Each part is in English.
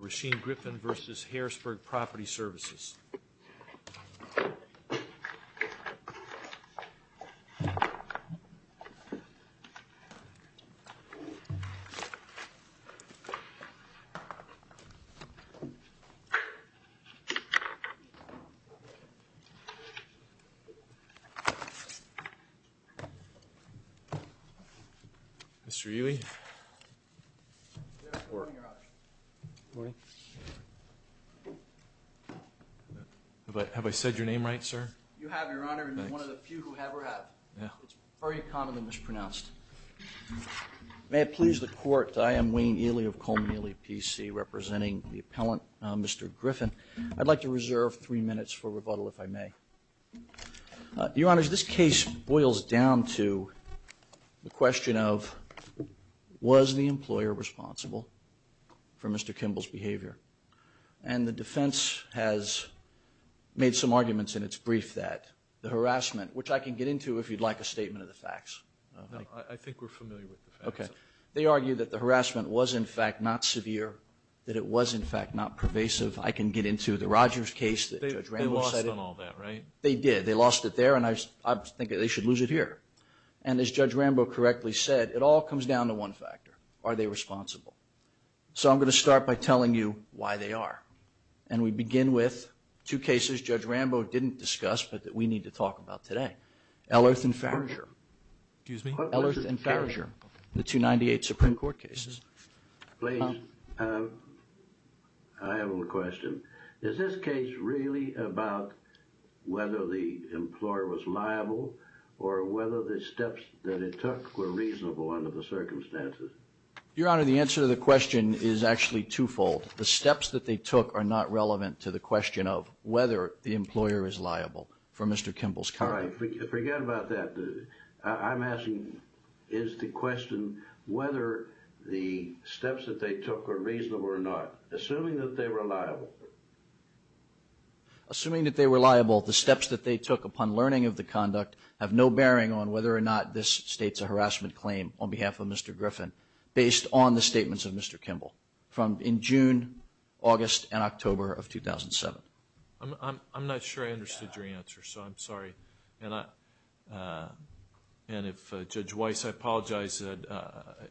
Rasheen Griffin vs. Harrisburg Property Services Mr. Ely May I please the court, I am Wayne Ely of Coleman Ely PC representing the appellant Mr. Griffin. I'd like to reserve three minutes for rebuttal if I may. Your Honor, this case boils down to the question of was the employer responsible for Mr. Kimball's behavior? And the defense has made some arguments in its brief that the harassment, which I can get into if you'd like a statement of the facts. I think we're familiar with the facts. Okay. They argue that the harassment was in fact not severe, that it was in fact not pervasive. I can get into the Rogers case that Judge Randolph cited. They lost on all that, right? They did. They lost it there and I think they should lose it here. And as Judge Rambo correctly said, it all comes down to one factor. Are they responsible? So I'm going to start by telling you why they are. And we begin with two cases Judge Rambo didn't discuss but that we need to talk about today. Ellerth and Farragher. Excuse me? Ellerth and Farragher. The 298 Supreme Court cases. Please. I have a question. Is this case really about whether the employer was liable or whether the steps that it took were reasonable under the circumstances? Your Honor, the answer to the question is actually twofold. The steps that they took are not relevant to the question of whether the employer is liable for Mr. Kimball's conduct. All right. Forget about that. I'm asking is the question whether the steps that they took were reasonable or not. Assuming that they were liable. Assuming that they were liable, the steps that they took upon learning of the conduct have no bearing on whether or not this states a harassment claim on behalf of Mr. Griffin, based on the statements of Mr. Kimball from in June, August, and October of 2007. I'm not sure I understood your answer, so I'm sorry. And if Judge Weiss, I apologize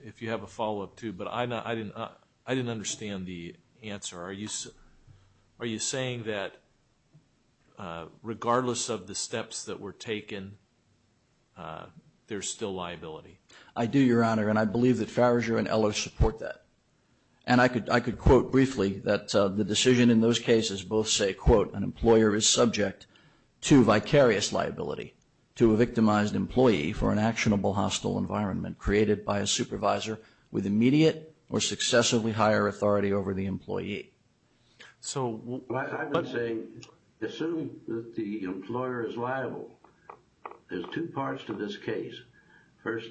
if you have a follow-up too, but I didn't understand the answer. Are you saying that regardless of the steps that were taken, there's still liability? I do, Your Honor, and I believe that Farragher and Ellerth support that. And I could quote briefly that the decision in those cases both say, quote, an employer is subject to vicarious liability to a victimized employee for an actionable hostile environment created by a supervisor with immediate or successively higher authority over the employee. I would say, assuming that the employer is liable, there's two parts to this case. First,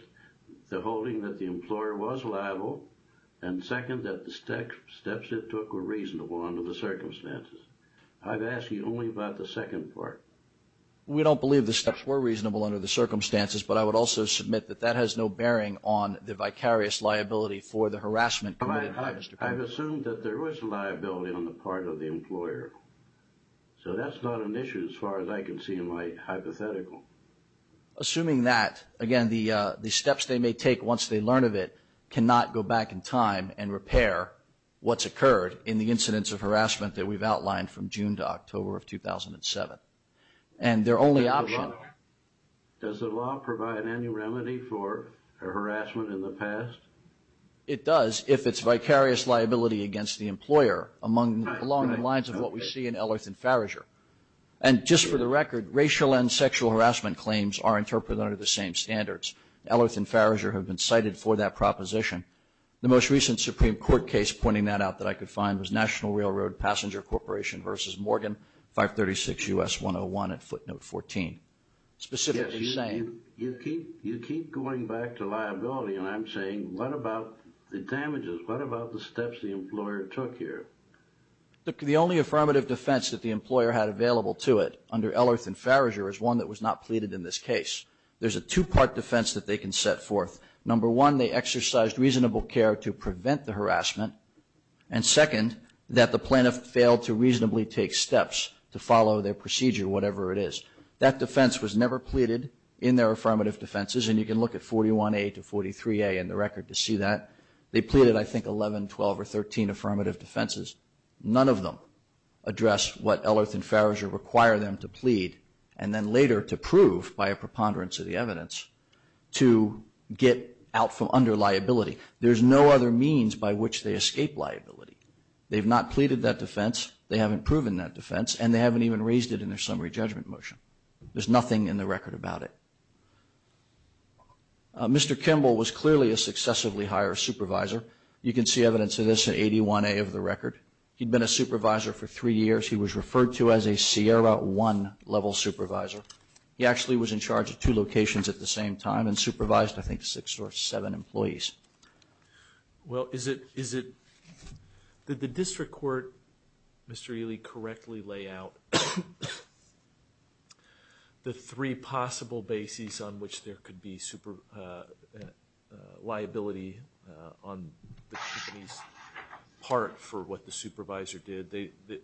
the holding that the employer was liable, and second, that the steps it took were reasonable under the circumstances. I'm asking you only about the second part. We don't believe the steps were reasonable under the circumstances, but I would also submit that that has no bearing on the vicarious liability for the harassment committed by Mr. Griffin. I've assumed that there was liability on the part of the employer, so that's not an issue as far as I can see in my hypothetical. Assuming that, again, the steps they may take once they learn of it cannot go back in time and repair what's occurred in the incidents of harassment that we've outlined from June to October of 2007. And their only option- Does the law provide any remedy for harassment in the past? It does if it's vicarious liability against the employer along the lines of what we see in Ellerth and Farragher. And just for the record, racial and sexual harassment claims are interpreted under the same standards. Ellerth and Farragher have been cited for that proposition. The most recent Supreme Court case pointing that out that I could find was National Railroad Passenger Corporation v. Morgan, 536 U.S. 101 at footnote 14. Specifically saying- You keep going back to liability, and I'm saying what about the damages? What about the steps the employer took here? The only affirmative defense that the employer had available to it under Ellerth and Farragher is one that was not pleaded in this case. There's a two-part defense that they can set forth. Number one, they exercised reasonable care to prevent the harassment. And second, that the plaintiff failed to reasonably take steps to follow their procedure, whatever it is. That defense was never pleaded in their affirmative defenses, and you can look at 41A to 43A in the record to see that. They pleaded, I think, 11, 12, or 13 affirmative defenses. None of them address what Ellerth and Farragher require them to plead, and then later to prove by a preponderance of the evidence to get out from under liability. There's no other means by which they escape liability. They've not pleaded that defense, they haven't proven that defense, and they haven't even raised it in their summary judgment motion. There's nothing in the record about it. Mr. Kimball was clearly a successively higher supervisor. You can see evidence of this in 81A of the record. He'd been a supervisor for three years. He was referred to as a Sierra One-level supervisor. He actually was in charge of two locations at the same time and supervised, I think, six or seven employees. Well, is it that the district court, Mr. Ely, correctly lay out the three possible bases on which there could be liability on the company's part for what the supervisor did? The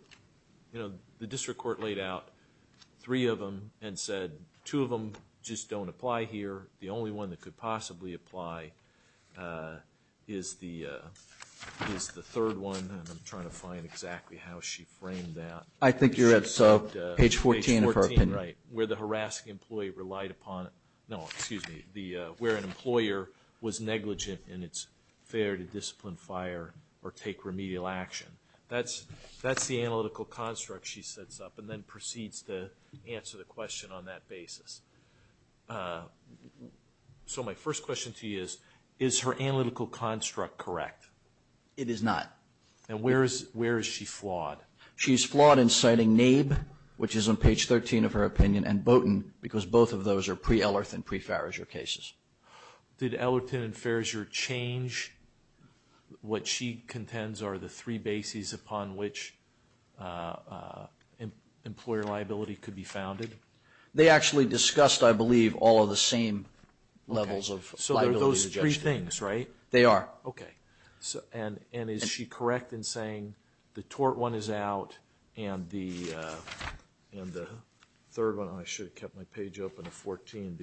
district court laid out three of them and said two of them just don't apply here. The only one that could possibly apply is the third one, and I'm trying to find exactly how she framed that. I think you're at page 14 of her opinion. Page 14, right, where the harassing employee relied upon it. No, excuse me, where an employer was negligent in its fair to discipline, fire, or take remedial action. That's the analytical construct she sets up and then proceeds to answer the question on that basis. So my first question to you is, is her analytical construct correct? It is not. And where is she flawed? She's flawed in citing NABE, which is on page 13 of her opinion, and BOTIN because both of those are pre-Ellerton and pre-Farrager cases. Did Ellerton and Farrager change what she contends are the three bases upon which employer liability could be founded? They actually discussed, I believe, all of the same levels of liability. So they're those three things, right? They are. Okay. And is she correct in saying the tort one is out and the third one, I should have kept my page open to 14,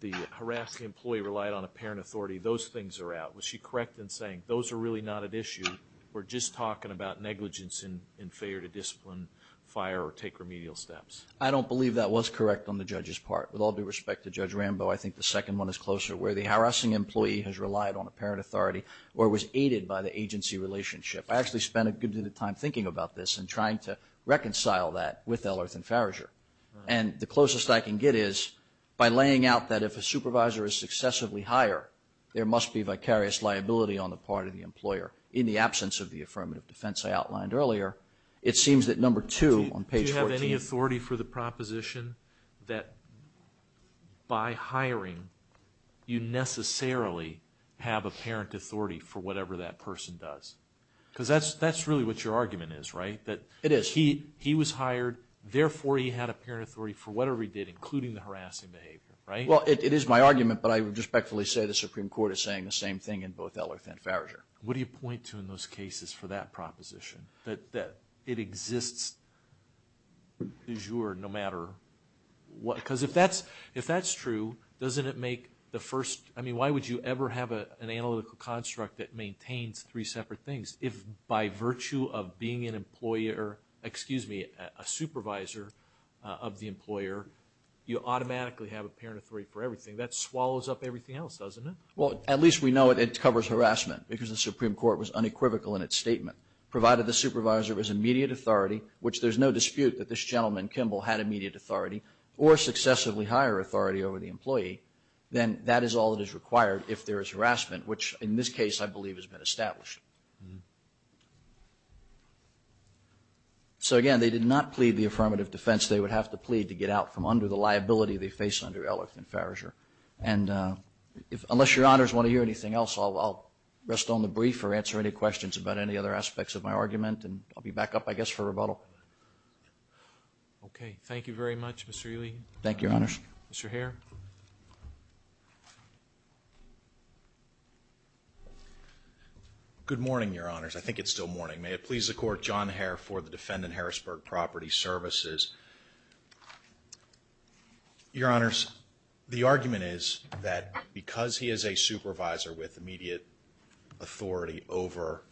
the harassing employee relied on apparent authority, those things are out. Was she correct in saying those are really not at issue, we're just talking about negligence in fair to discipline, fire, or take remedial steps? I don't believe that was correct on the judge's part. With all due respect to Judge Rambo, I think the second one is closer, where the harassing employee has relied on apparent authority or was aided by the agency relationship. I actually spent a good bit of time thinking about this and trying to reconcile that with Ellerton and Farrager. And the closest I can get is by laying out that if a supervisor is successively hired, there must be vicarious liability on the part of the employer. In the absence of the affirmative defense I outlined earlier, it seems that number two on page 14. Do you have any authority for the proposition that by hiring, you necessarily have apparent authority for whatever that person does? Because that's really what your argument is, right? It is. He was hired, therefore he had apparent authority for whatever he did, including the harassing behavior, right? Well, it is my argument, but I would respectfully say the Supreme Court is saying the same thing in both Ellerton and Farrager. What do you point to in those cases for that proposition, that it exists du jour no matter what? Because if that's true, doesn't it make the first – I mean, why would you ever have an analytical construct that maintains three separate things? If by virtue of being an employer – excuse me, a supervisor of the employer, you automatically have apparent authority for everything, that swallows up everything else, doesn't it? Well, at least we know it covers harassment, because the Supreme Court was unequivocal in its statement. Provided the supervisor was immediate authority, which there's no dispute that this gentleman, Kimball, had immediate authority or successively higher authority over the employee, then that is all that is required if there is harassment, which in this case I believe has been established. So again, they did not plead the affirmative defense they would have to plead to get out from under the liability they face under Ellerton and Farrager. And unless Your Honors want to hear anything else, I'll rest on the brief or answer any questions about any other aspects of my argument, and I'll be back up, I guess, for rebuttal. Okay. Thank you very much, Mr. Ely. Thank you, Your Honors. Mr. Hare. Good morning, Your Honors. I think it's still morning. May it please the Court, John Hare for the defendant, Harrisburg Property Services. Your Honors, the argument is that because he is a supervisor with immediate authority over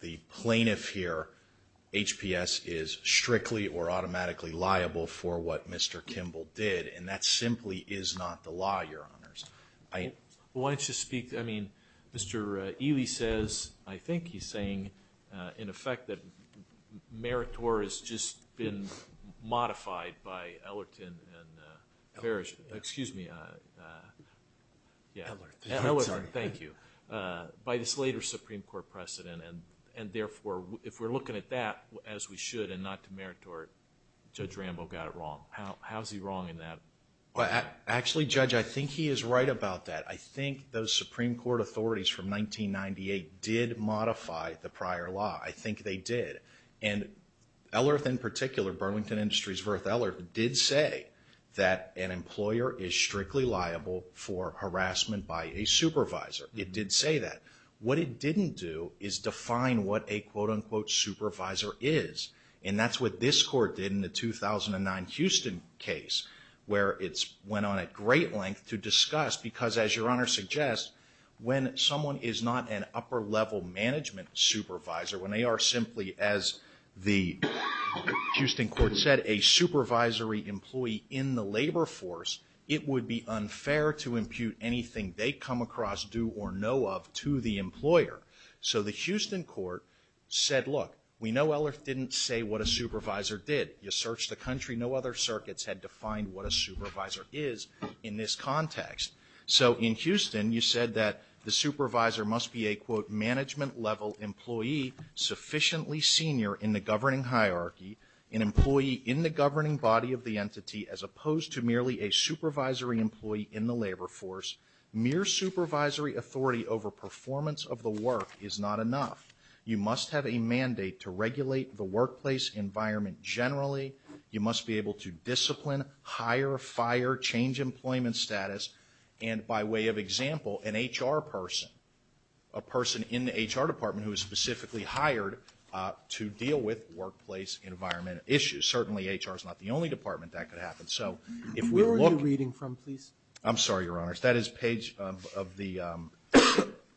the plaintiff here, HPS is strictly or automatically liable for what Mr. Kimball did, and that simply is not the law, Your Honors. Why don't you speak? I mean, Mr. Ely says, I think he's saying, in effect, that Meritor has just been modified by Ellerton and Farrager... Ellerton. Excuse me. Yeah. Ellerton. Sorry. Thank you. By this later Supreme Court precedent, and therefore, if we're looking at that, as we should and not to Meritor, Judge Rambo got it wrong. How is he wrong in that? Actually, Judge, I think he is right about that. I think those Supreme Court authorities from 1998 did modify the prior law. I think they did. And Ellerton, in particular, Burlington Industries v. Ellerton, did say that an employer is strictly liable for harassment by a supervisor. It did say that. What it didn't do is define what a quote-unquote supervisor is, and that's what this court did in the 2009 Houston case, where it went on at great length to discuss because, as Your Honor suggests, when someone is not an upper-level management supervisor, when they are simply, as the Houston court said, a supervisory employee in the labor force, it would be unfair to impute anything they come across, do or know of, to the employer. So the Houston court said, look, we know Ellerton didn't say what a supervisor did. You searched the country. No other circuits had defined what a supervisor is in this context. So in Houston, you said that the supervisor must be a, quote, sufficiently senior in the governing hierarchy, an employee in the governing body of the entity, as opposed to merely a supervisory employee in the labor force. Mere supervisory authority over performance of the work is not enough. You must have a mandate to regulate the workplace environment generally. You must be able to discipline, hire, fire, change employment status. And by way of example, an HR person, a person in the HR department who is specifically hired to deal with workplace environment issues. Certainly HR is not the only department that could happen. So if we look. Where are you reading from, please? I'm sorry, Your Honors. That is page of the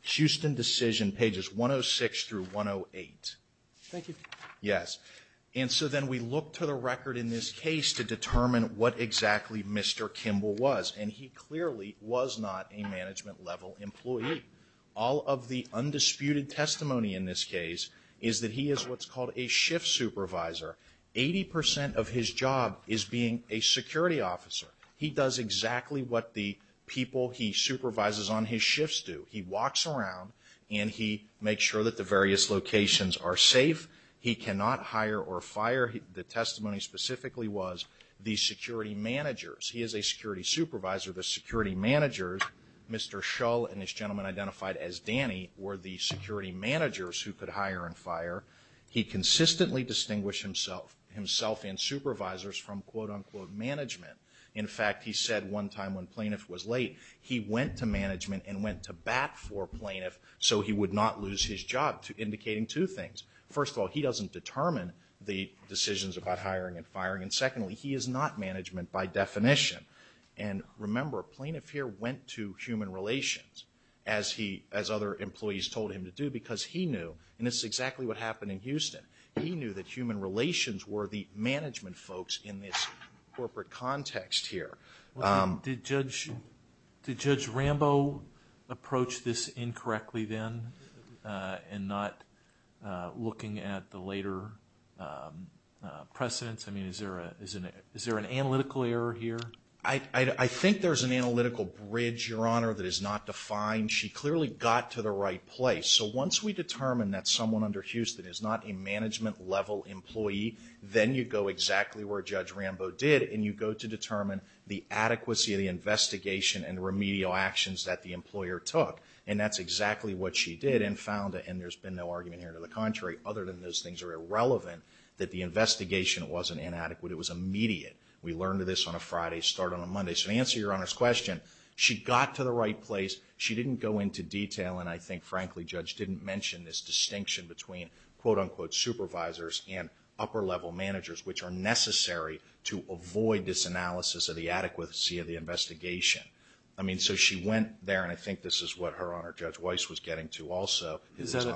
Houston decision, pages 106 through 108. Thank you. Yes. And so then we look to the record in this case to determine what exactly Mr. Lee was not a management level employee. All of the undisputed testimony in this case is that he is what's called a shift supervisor. Eighty percent of his job is being a security officer. He does exactly what the people he supervises on his shifts do. He walks around and he makes sure that the various locations are safe. He cannot hire or fire. The testimony specifically was the security managers. He is a security supervisor. The security managers, Mr. Shull and this gentleman identified as Danny, were the security managers who could hire and fire. He consistently distinguished himself and supervisors from, quote-unquote, management. In fact, he said one time when plaintiff was late, he went to management and went to bat for plaintiff so he would not lose his job, indicating two things. First of all, he doesn't determine the decisions about hiring and firing. And secondly, he is not management by definition. And remember, plaintiff here went to human relations, as other employees told him to do, because he knew, and this is exactly what happened in Houston, he knew that human relations were the management folks in this corporate context here. Did Judge Rambo approach this incorrectly then in not looking at the later precedents? I mean, is there an analytical error here? I think there's an analytical bridge, Your Honor, that is not defined. She clearly got to the right place. So once we determine that someone under Houston is not a management level employee, then you go exactly where Judge Rambo did, and you go to determine the adequacy of the investigation and remedial actions that the employer took. And that's exactly what she did and found, and there's been no argument here to the contrary, other than those things are irrelevant, that the investigation wasn't inadequate. It was immediate. We learned this on a Friday, start on a Monday. So to answer Your Honor's question, she got to the right place. She didn't go into detail, and I think, frankly, Judge didn't mention this distinction between, quote, unquote, supervisors and upper level managers, which are necessary to avoid this analysis of the adequacy of the investigation. I mean, so she went there, and I think this is what Her Honor, Judge Weiss, was getting to also. Is that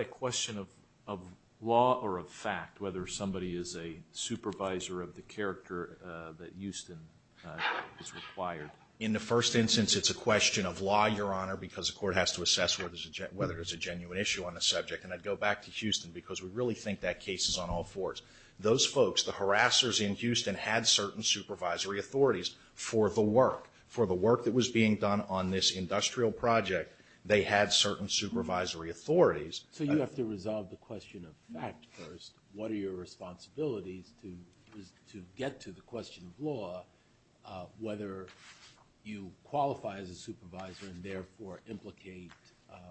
a question of law or of fact, whether somebody is a supervisor of the character that Houston is required? In the first instance, it's a question of law, Your Honor, because the court has to assess whether there's a genuine issue on the subject. And I'd go back to Houston, because we really think that case is on all fours. Those folks, the harassers in Houston, had certain supervisory authorities for the work, for the work that was being done on this industrial project. They had certain supervisory authorities. So you have to resolve the question of fact first. What are your responsibilities to get to the question of law, whether you qualify as a supervisor and, therefore, implicate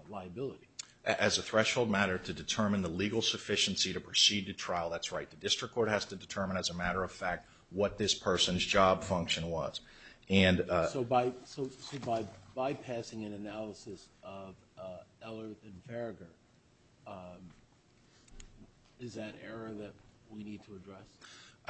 liability? As a threshold matter, to determine the legal sufficiency to proceed to trial, that's right. The district court has to determine, as a matter of fact, what this person's job function was. So by bypassing an analysis of Ellerth and Farragher, is that error that we need to address?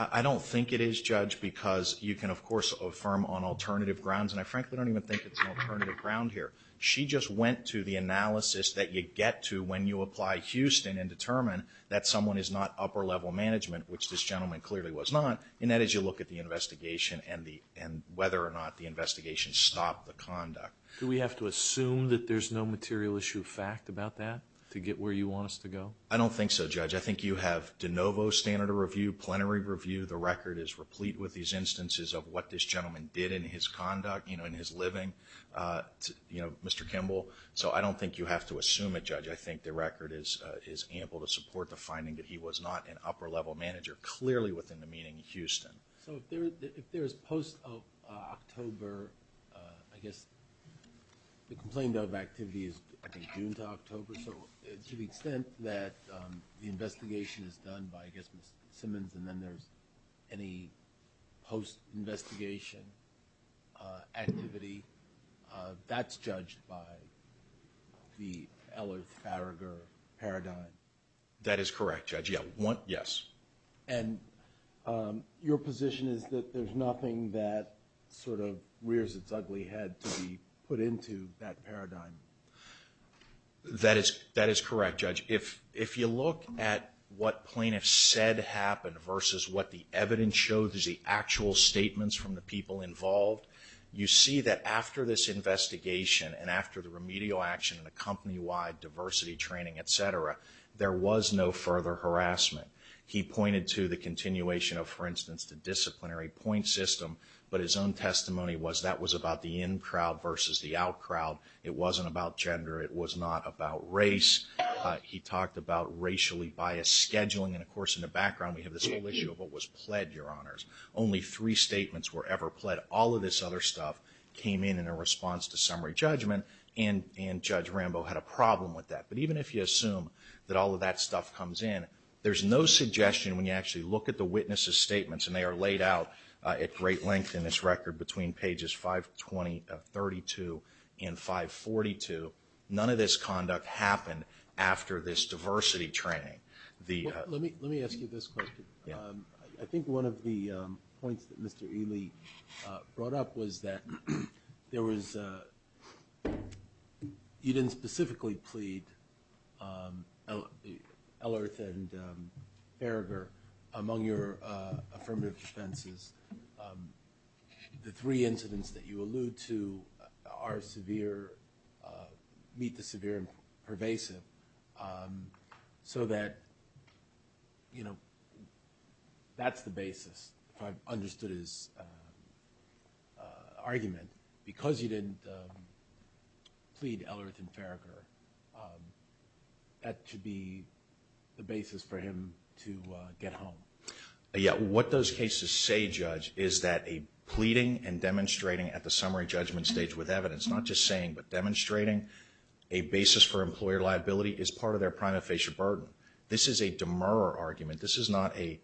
I don't think it is, Judge, because you can, of course, affirm on alternative grounds. And I frankly don't even think it's an alternative ground here. She just went to the analysis that you get to when you apply Houston and determine that someone is not upper-level management, which this gentleman clearly was not, and that is you look at the investigation and whether or not the investigation stopped the conduct. Do we have to assume that there's no material issue of fact about that to get where you want us to go? I don't think so, Judge. I think you have de novo standard of review, plenary review. The record is replete with these instances of what this gentleman did in his conduct, in his living, Mr. Kimball. So I don't think you have to assume it, Judge. I think the record is ample to support the finding that he was not an So if there is post-October, I guess, the complaint of activity is, I think, June to October. So to the extent that the investigation is done by, I guess, Ms. Simmons and then there's any post-investigation activity, that's judged by the Ellert-Faragher paradigm. That is correct, Judge. Yes. And your position is that there's nothing that sort of rears its ugly head to be put into that paradigm? That is correct, Judge. If you look at what plaintiffs said happened versus what the evidence shows as the actual statements from the people involved, you see that after this investigation and after the remedial action and the company-wide diversity training, et cetera, there was no further harassment. He pointed to the continuation of, for instance, the disciplinary point system. But his own testimony was that was about the in-crowd versus the out-crowd. It wasn't about gender. It was not about race. He talked about racially biased scheduling. And, of course, in the background, we have this whole issue of what was pled, Your Honors. Only three statements were ever pled. All of this other stuff came in in a response to summary judgment, and Judge Rambo had a problem with that. But even if you assume that all of that stuff comes in, there's no suggestion when you actually look at the witnesses' statements, and they are laid out at great length in this record between pages 532 and 542, none of this conduct happened after this diversity training. Let me ask you this question. I think one of the points that Mr. Ely brought up was that there was you didn't specifically plead Ellerth and Farragher among your affirmative defenses. The three incidents that you allude to are severe, meet the severe and pervasive, so that, you know, that's the basis, if I've understood his argument. Because you didn't plead Ellerth and Farragher, that should be the basis for him to get home. Yeah, what those cases say, Judge, is that a pleading and demonstrating at the summary judgment stage with evidence, not just saying, but demonstrating a basis for employer liability is part of their prima facie burden. This is a demurrer argument. This is not an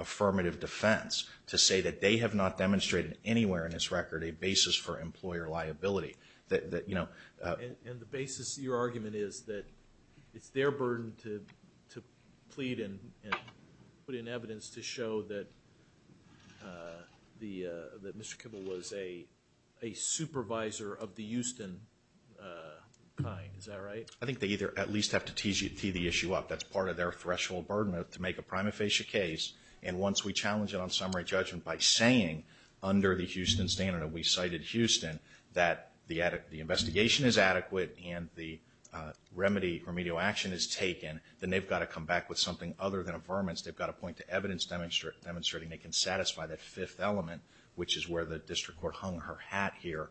affirmative defense to say that they have not demonstrated anywhere in this record a basis for employer liability. And the basis of your argument is that it's their burden to plead and put in evidence to show that Mr. Kibble was a supervisor of the Houston kind. Is that right? I think they either at least have to tee the issue up. That's part of their threshold burden to make a prima facie case, and once we challenge it on summary judgment by saying under the Houston standard, and we cited Houston, that the investigation is adequate and the remedial action is taken, then they've got to come back with something other than affirmance. They've got to point to evidence demonstrating they can satisfy that fifth element, which is where the district court hung her hat here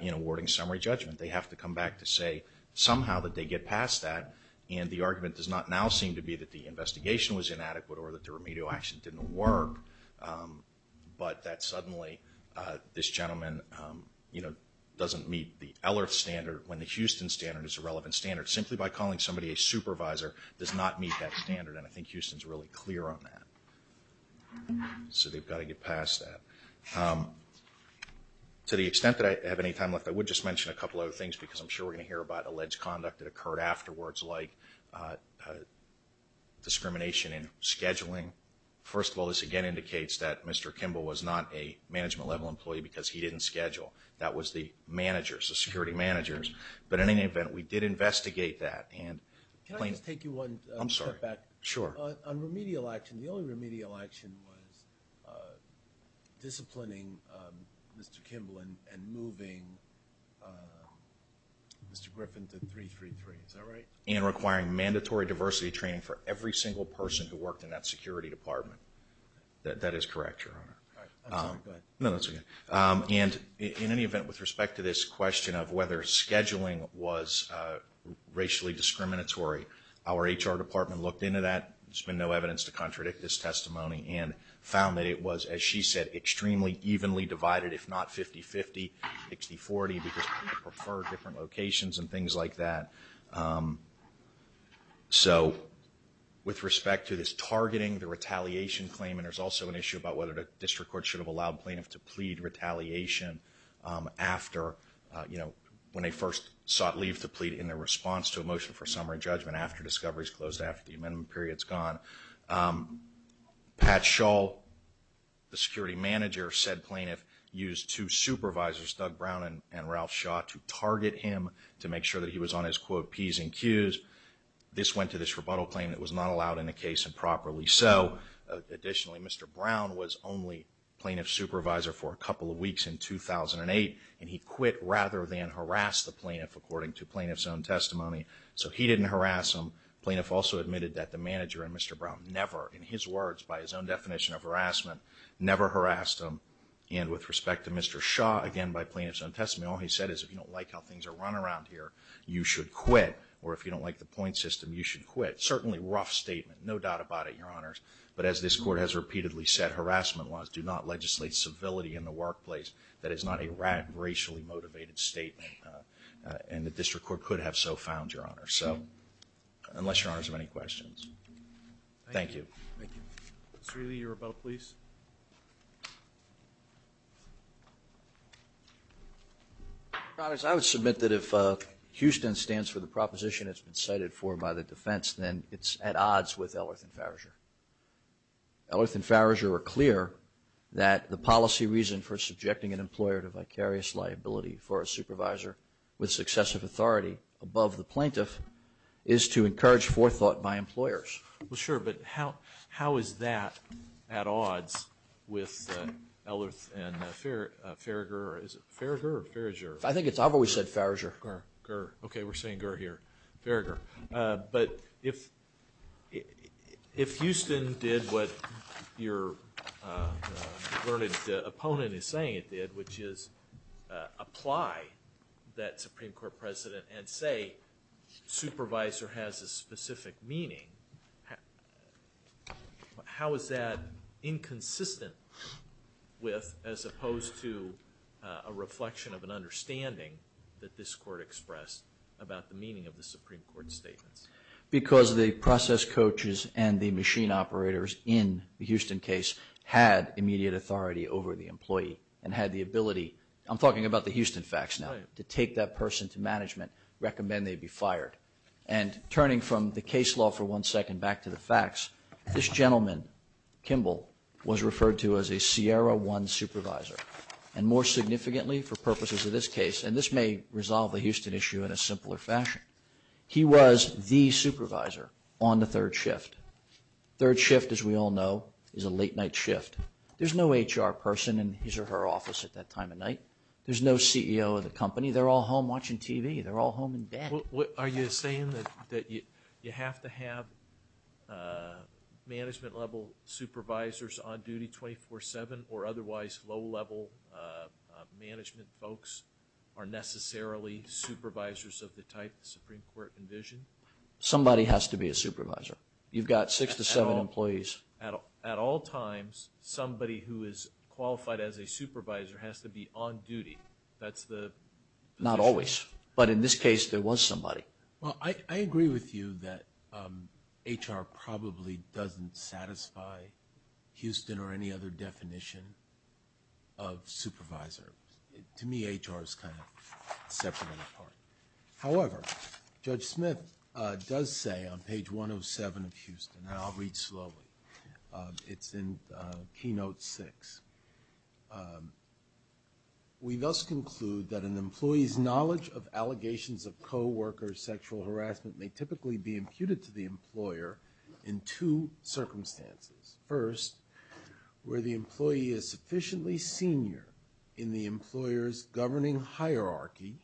in awarding summary judgment. They have to come back to say somehow that they get past that, and the argument does not now seem to be that the investigation was inadequate or that the remedial action didn't work, but that suddenly this gentleman doesn't meet the LRF standard when the Houston standard is a relevant standard. Simply by calling somebody a supervisor does not meet that standard, and I think Houston is really clear on that. So they've got to get past that. To the extent that I have any time left, I would just mention a couple other things because I'm sure we're going to hear about alleged conduct that occurred afterwards like discrimination in scheduling. First of all, this again indicates that Mr. Kimball was not a management-level employee because he didn't schedule. That was the managers, the security managers. But in any event, we did investigate that. Can I just take you one step back? I'm sorry. Sure. On remedial action, the only remedial action was disciplining Mr. Kimball and moving Mr. Griffin to 333. Is that right? And requiring mandatory diversity training for every single person who worked in that security department. That is correct, Your Honor. I'm sorry. Go ahead. No, that's okay. And in any event, with respect to this question of whether scheduling was racially discriminatory, our HR department looked into that. There's been no evidence to contradict this testimony and found that it was, as she said, extremely evenly divided, if not 50-50, 60-40, because people prefer different locations and things like that. So with respect to this targeting, the retaliation claim, and there's also an issue about whether the district court should have allowed plaintiffs to plead retaliation after, you know, when they first sought leave to plead in their response to a motion for summary judgment after discovery is closed, after the amendment period is gone. Pat Shaw, the security manager, said plaintiff used two supervisors, Doug Brown and Ralph Shaw, to target him to make sure that he was on his, quote, P's and Q's. This went to this rebuttal claim that was not allowed in the case and properly so. Additionally, Mr. Brown was only plaintiff's supervisor for a couple of weeks in 2008, and he quit rather than harass the plaintiff, according to plaintiff's own testimony. So he didn't harass him. Plaintiff also admitted that the manager and Mr. Brown never, in his words, by his own definition of harassment, never harassed him. And with respect to Mr. Shaw, again by plaintiff's own testimony, all he said is if you don't like how things are run around here, you should quit, or if you don't like the point system, you should quit. Certainly rough statement. No doubt about it, Your Honors. But as this court has repeatedly said harassment-wise, do not legislate civility in the workplace. That is not a racially motivated statement, and the district court could have so found, Your Honors. So unless Your Honors have any questions. Thank you. Thank you. Mr. Ealy, your rebuttal, please. Your Honors, I would submit that if Houston stands for the proposition that's been cited for by the defense, then it's at odds with Ellerth and Farriger. Ellerth and Farriger are clear that the policy reason for subjecting an employer to vicarious liability for a supervisor with successive authority above the plaintiff is to encourage forethought by employers. Well, sure, but how is that at odds with Ellerth and Farriger? Is it Farriger or Farriger? I think it's – I've always said Farriger. Gurr. Gurr. Okay, we're saying gurr here. Farriger. But if Houston did what your learned opponent is saying it did, which is apply that Supreme Court precedent and say supervisor has a specific meaning, how is that inconsistent with as opposed to a reflection of an understanding that this court expressed about the meaning of the Supreme Court statements? Because the process coaches and the machine operators in the Houston case had immediate authority over the employee and had the ability – I'm talking about the Houston facts now. Right. To take that person to management, recommend they be fired. And turning from the case law for one second back to the facts, this gentleman, Kimball, was referred to as a Sierra One supervisor. And more significantly for purposes of this case, and this may resolve the Houston issue in a simpler fashion, he was the supervisor on the third shift. Third shift, as we all know, is a late-night shift. There's no HR person in his or her office at that time of night. There's no CEO of the company. They're all home watching TV. They're all home in bed. Are you saying that you have to have management-level supervisors on duty 24-7 or otherwise low-level management folks are necessarily supervisors of the type the Supreme Court envisioned? Somebody has to be a supervisor. You've got six to seven employees. At all times, somebody who is qualified as a supervisor has to be on duty. That's the position. Not always. But in this case, there was somebody. Well, I agree with you that HR probably doesn't satisfy Houston or any other definition of supervisor. To me, HR is kind of separate and apart. However, Judge Smith does say on page 107 of Houston, and I'll read slowly, it's in keynote six, we thus conclude that an employee's knowledge of allegations of co-worker sexual harassment may typically be imputed to the employer in two circumstances. First, where the employee is sufficiently senior in the employer's governing hierarchy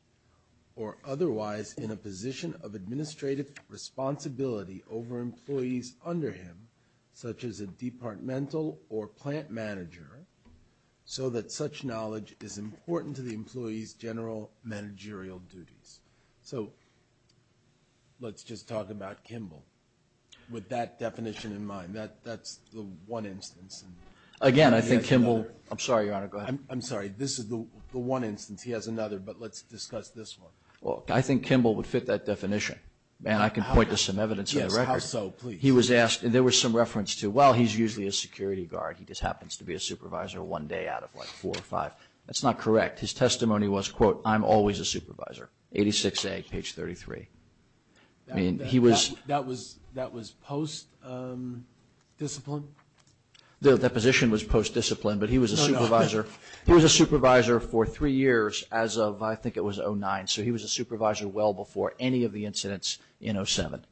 or otherwise in a position of administrative responsibility over employees under him, such as a departmental or plant manager, so that such knowledge is important to the employee's general managerial duties. So let's just talk about Kimball with that definition in mind. That's the one instance. Again, I think Kimball. I'm sorry, Your Honor, go ahead. I'm sorry. This is the one instance. He has another, but let's discuss this one. Well, I think Kimball would fit that definition. And I can point to some evidence of that record. Yes, how so? He was asked, and there was some reference to, well, he's usually a security guard. He just happens to be a supervisor one day out of, like, four or five. That's not correct. His testimony was, quote, I'm always a supervisor, 86A, page 33. I mean, he was. That was post-discipline? The position was post-discipline, but he was a supervisor. He was a supervisor for three years as of, I think it was, 2009. So he was a supervisor well before any of the incidents in 07,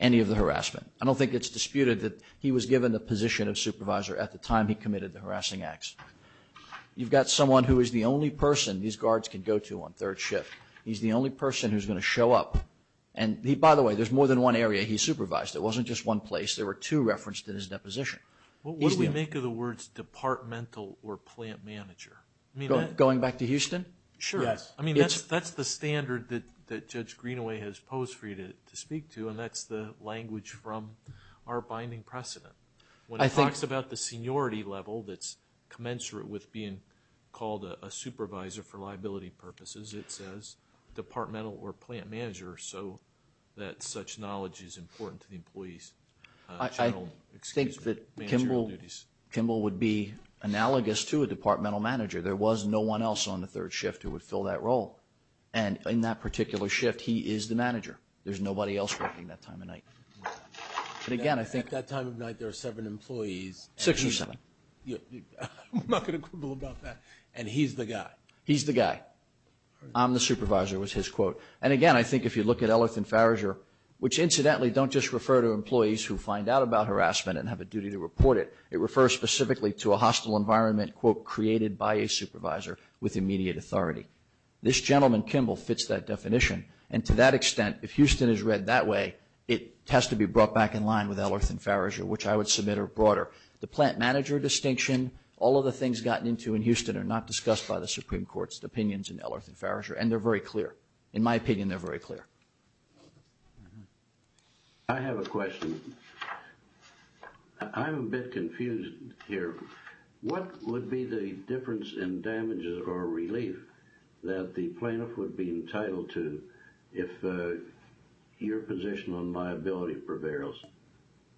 any of the harassment. I don't think it's disputed that he was given the position of supervisor at the time he committed the harassing acts. You've got someone who is the only person these guards can go to on third shift. He's the only person who's going to show up. And, by the way, there's more than one area he supervised. It wasn't just one place. There were two referenced in his deposition. What would we make of the words departmental or plant manager? Going back to Houston? Sure. I mean, that's the standard that Judge Greenaway has posed for you to speak to, and that's the language from our binding precedent. When he talks about the seniority level that's commensurate with being called a supervisor for liability purposes, it says departmental or plant manager, so that such knowledge is important to the employees. I think that Kimball would be analogous to a departmental manager. There was no one else on the third shift who would fill that role. And in that particular shift, he is the manager. There's nobody else working that time of night. At that time of night, there are seven employees. Six or seven. I'm not going to quibble about that. And he's the guy. He's the guy. I'm the supervisor, was his quote. And, again, I think if you look at Eleuth and Farriger, which incidentally don't just refer to employees who find out about harassment and have a duty to report it. It refers specifically to a hostile environment, quote, created by a supervisor with immediate authority. This gentleman, Kimball, fits that definition. And to that extent, if Houston is read that way, it has to be brought back in line with Eleuth and Farriger, which I would submit are broader. The plant manager distinction, all of the things gotten into in Houston, are not discussed by the Supreme Court's opinions in Eleuth and Farriger, and they're very clear. In my opinion, they're very clear. I have a question. I'm a bit confused here. What would be the difference in damages or relief that the plaintiff would be entitled to if your position on liability prevails?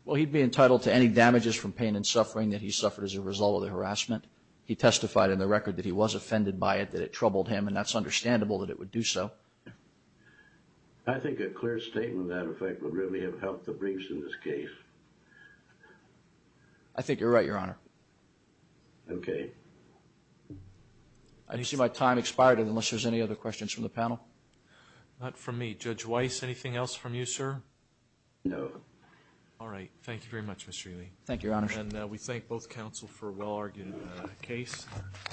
Well, he'd be entitled to any damages from pain and suffering that he suffered as a result of the harassment. He testified in the record that he was offended by it, that it troubled him, and that's understandable that it would do so. I think a clear statement of that effect would really have helped the briefs in this case. I think you're right, Your Honor. Okay. I do see my time expired unless there's any other questions from the panel. Not from me. Judge Weiss, anything else from you, sir? No. All right. Thank you very much, Mr. Ely. Thank you, Your Honor. And we thank both counsel for a well-argued case.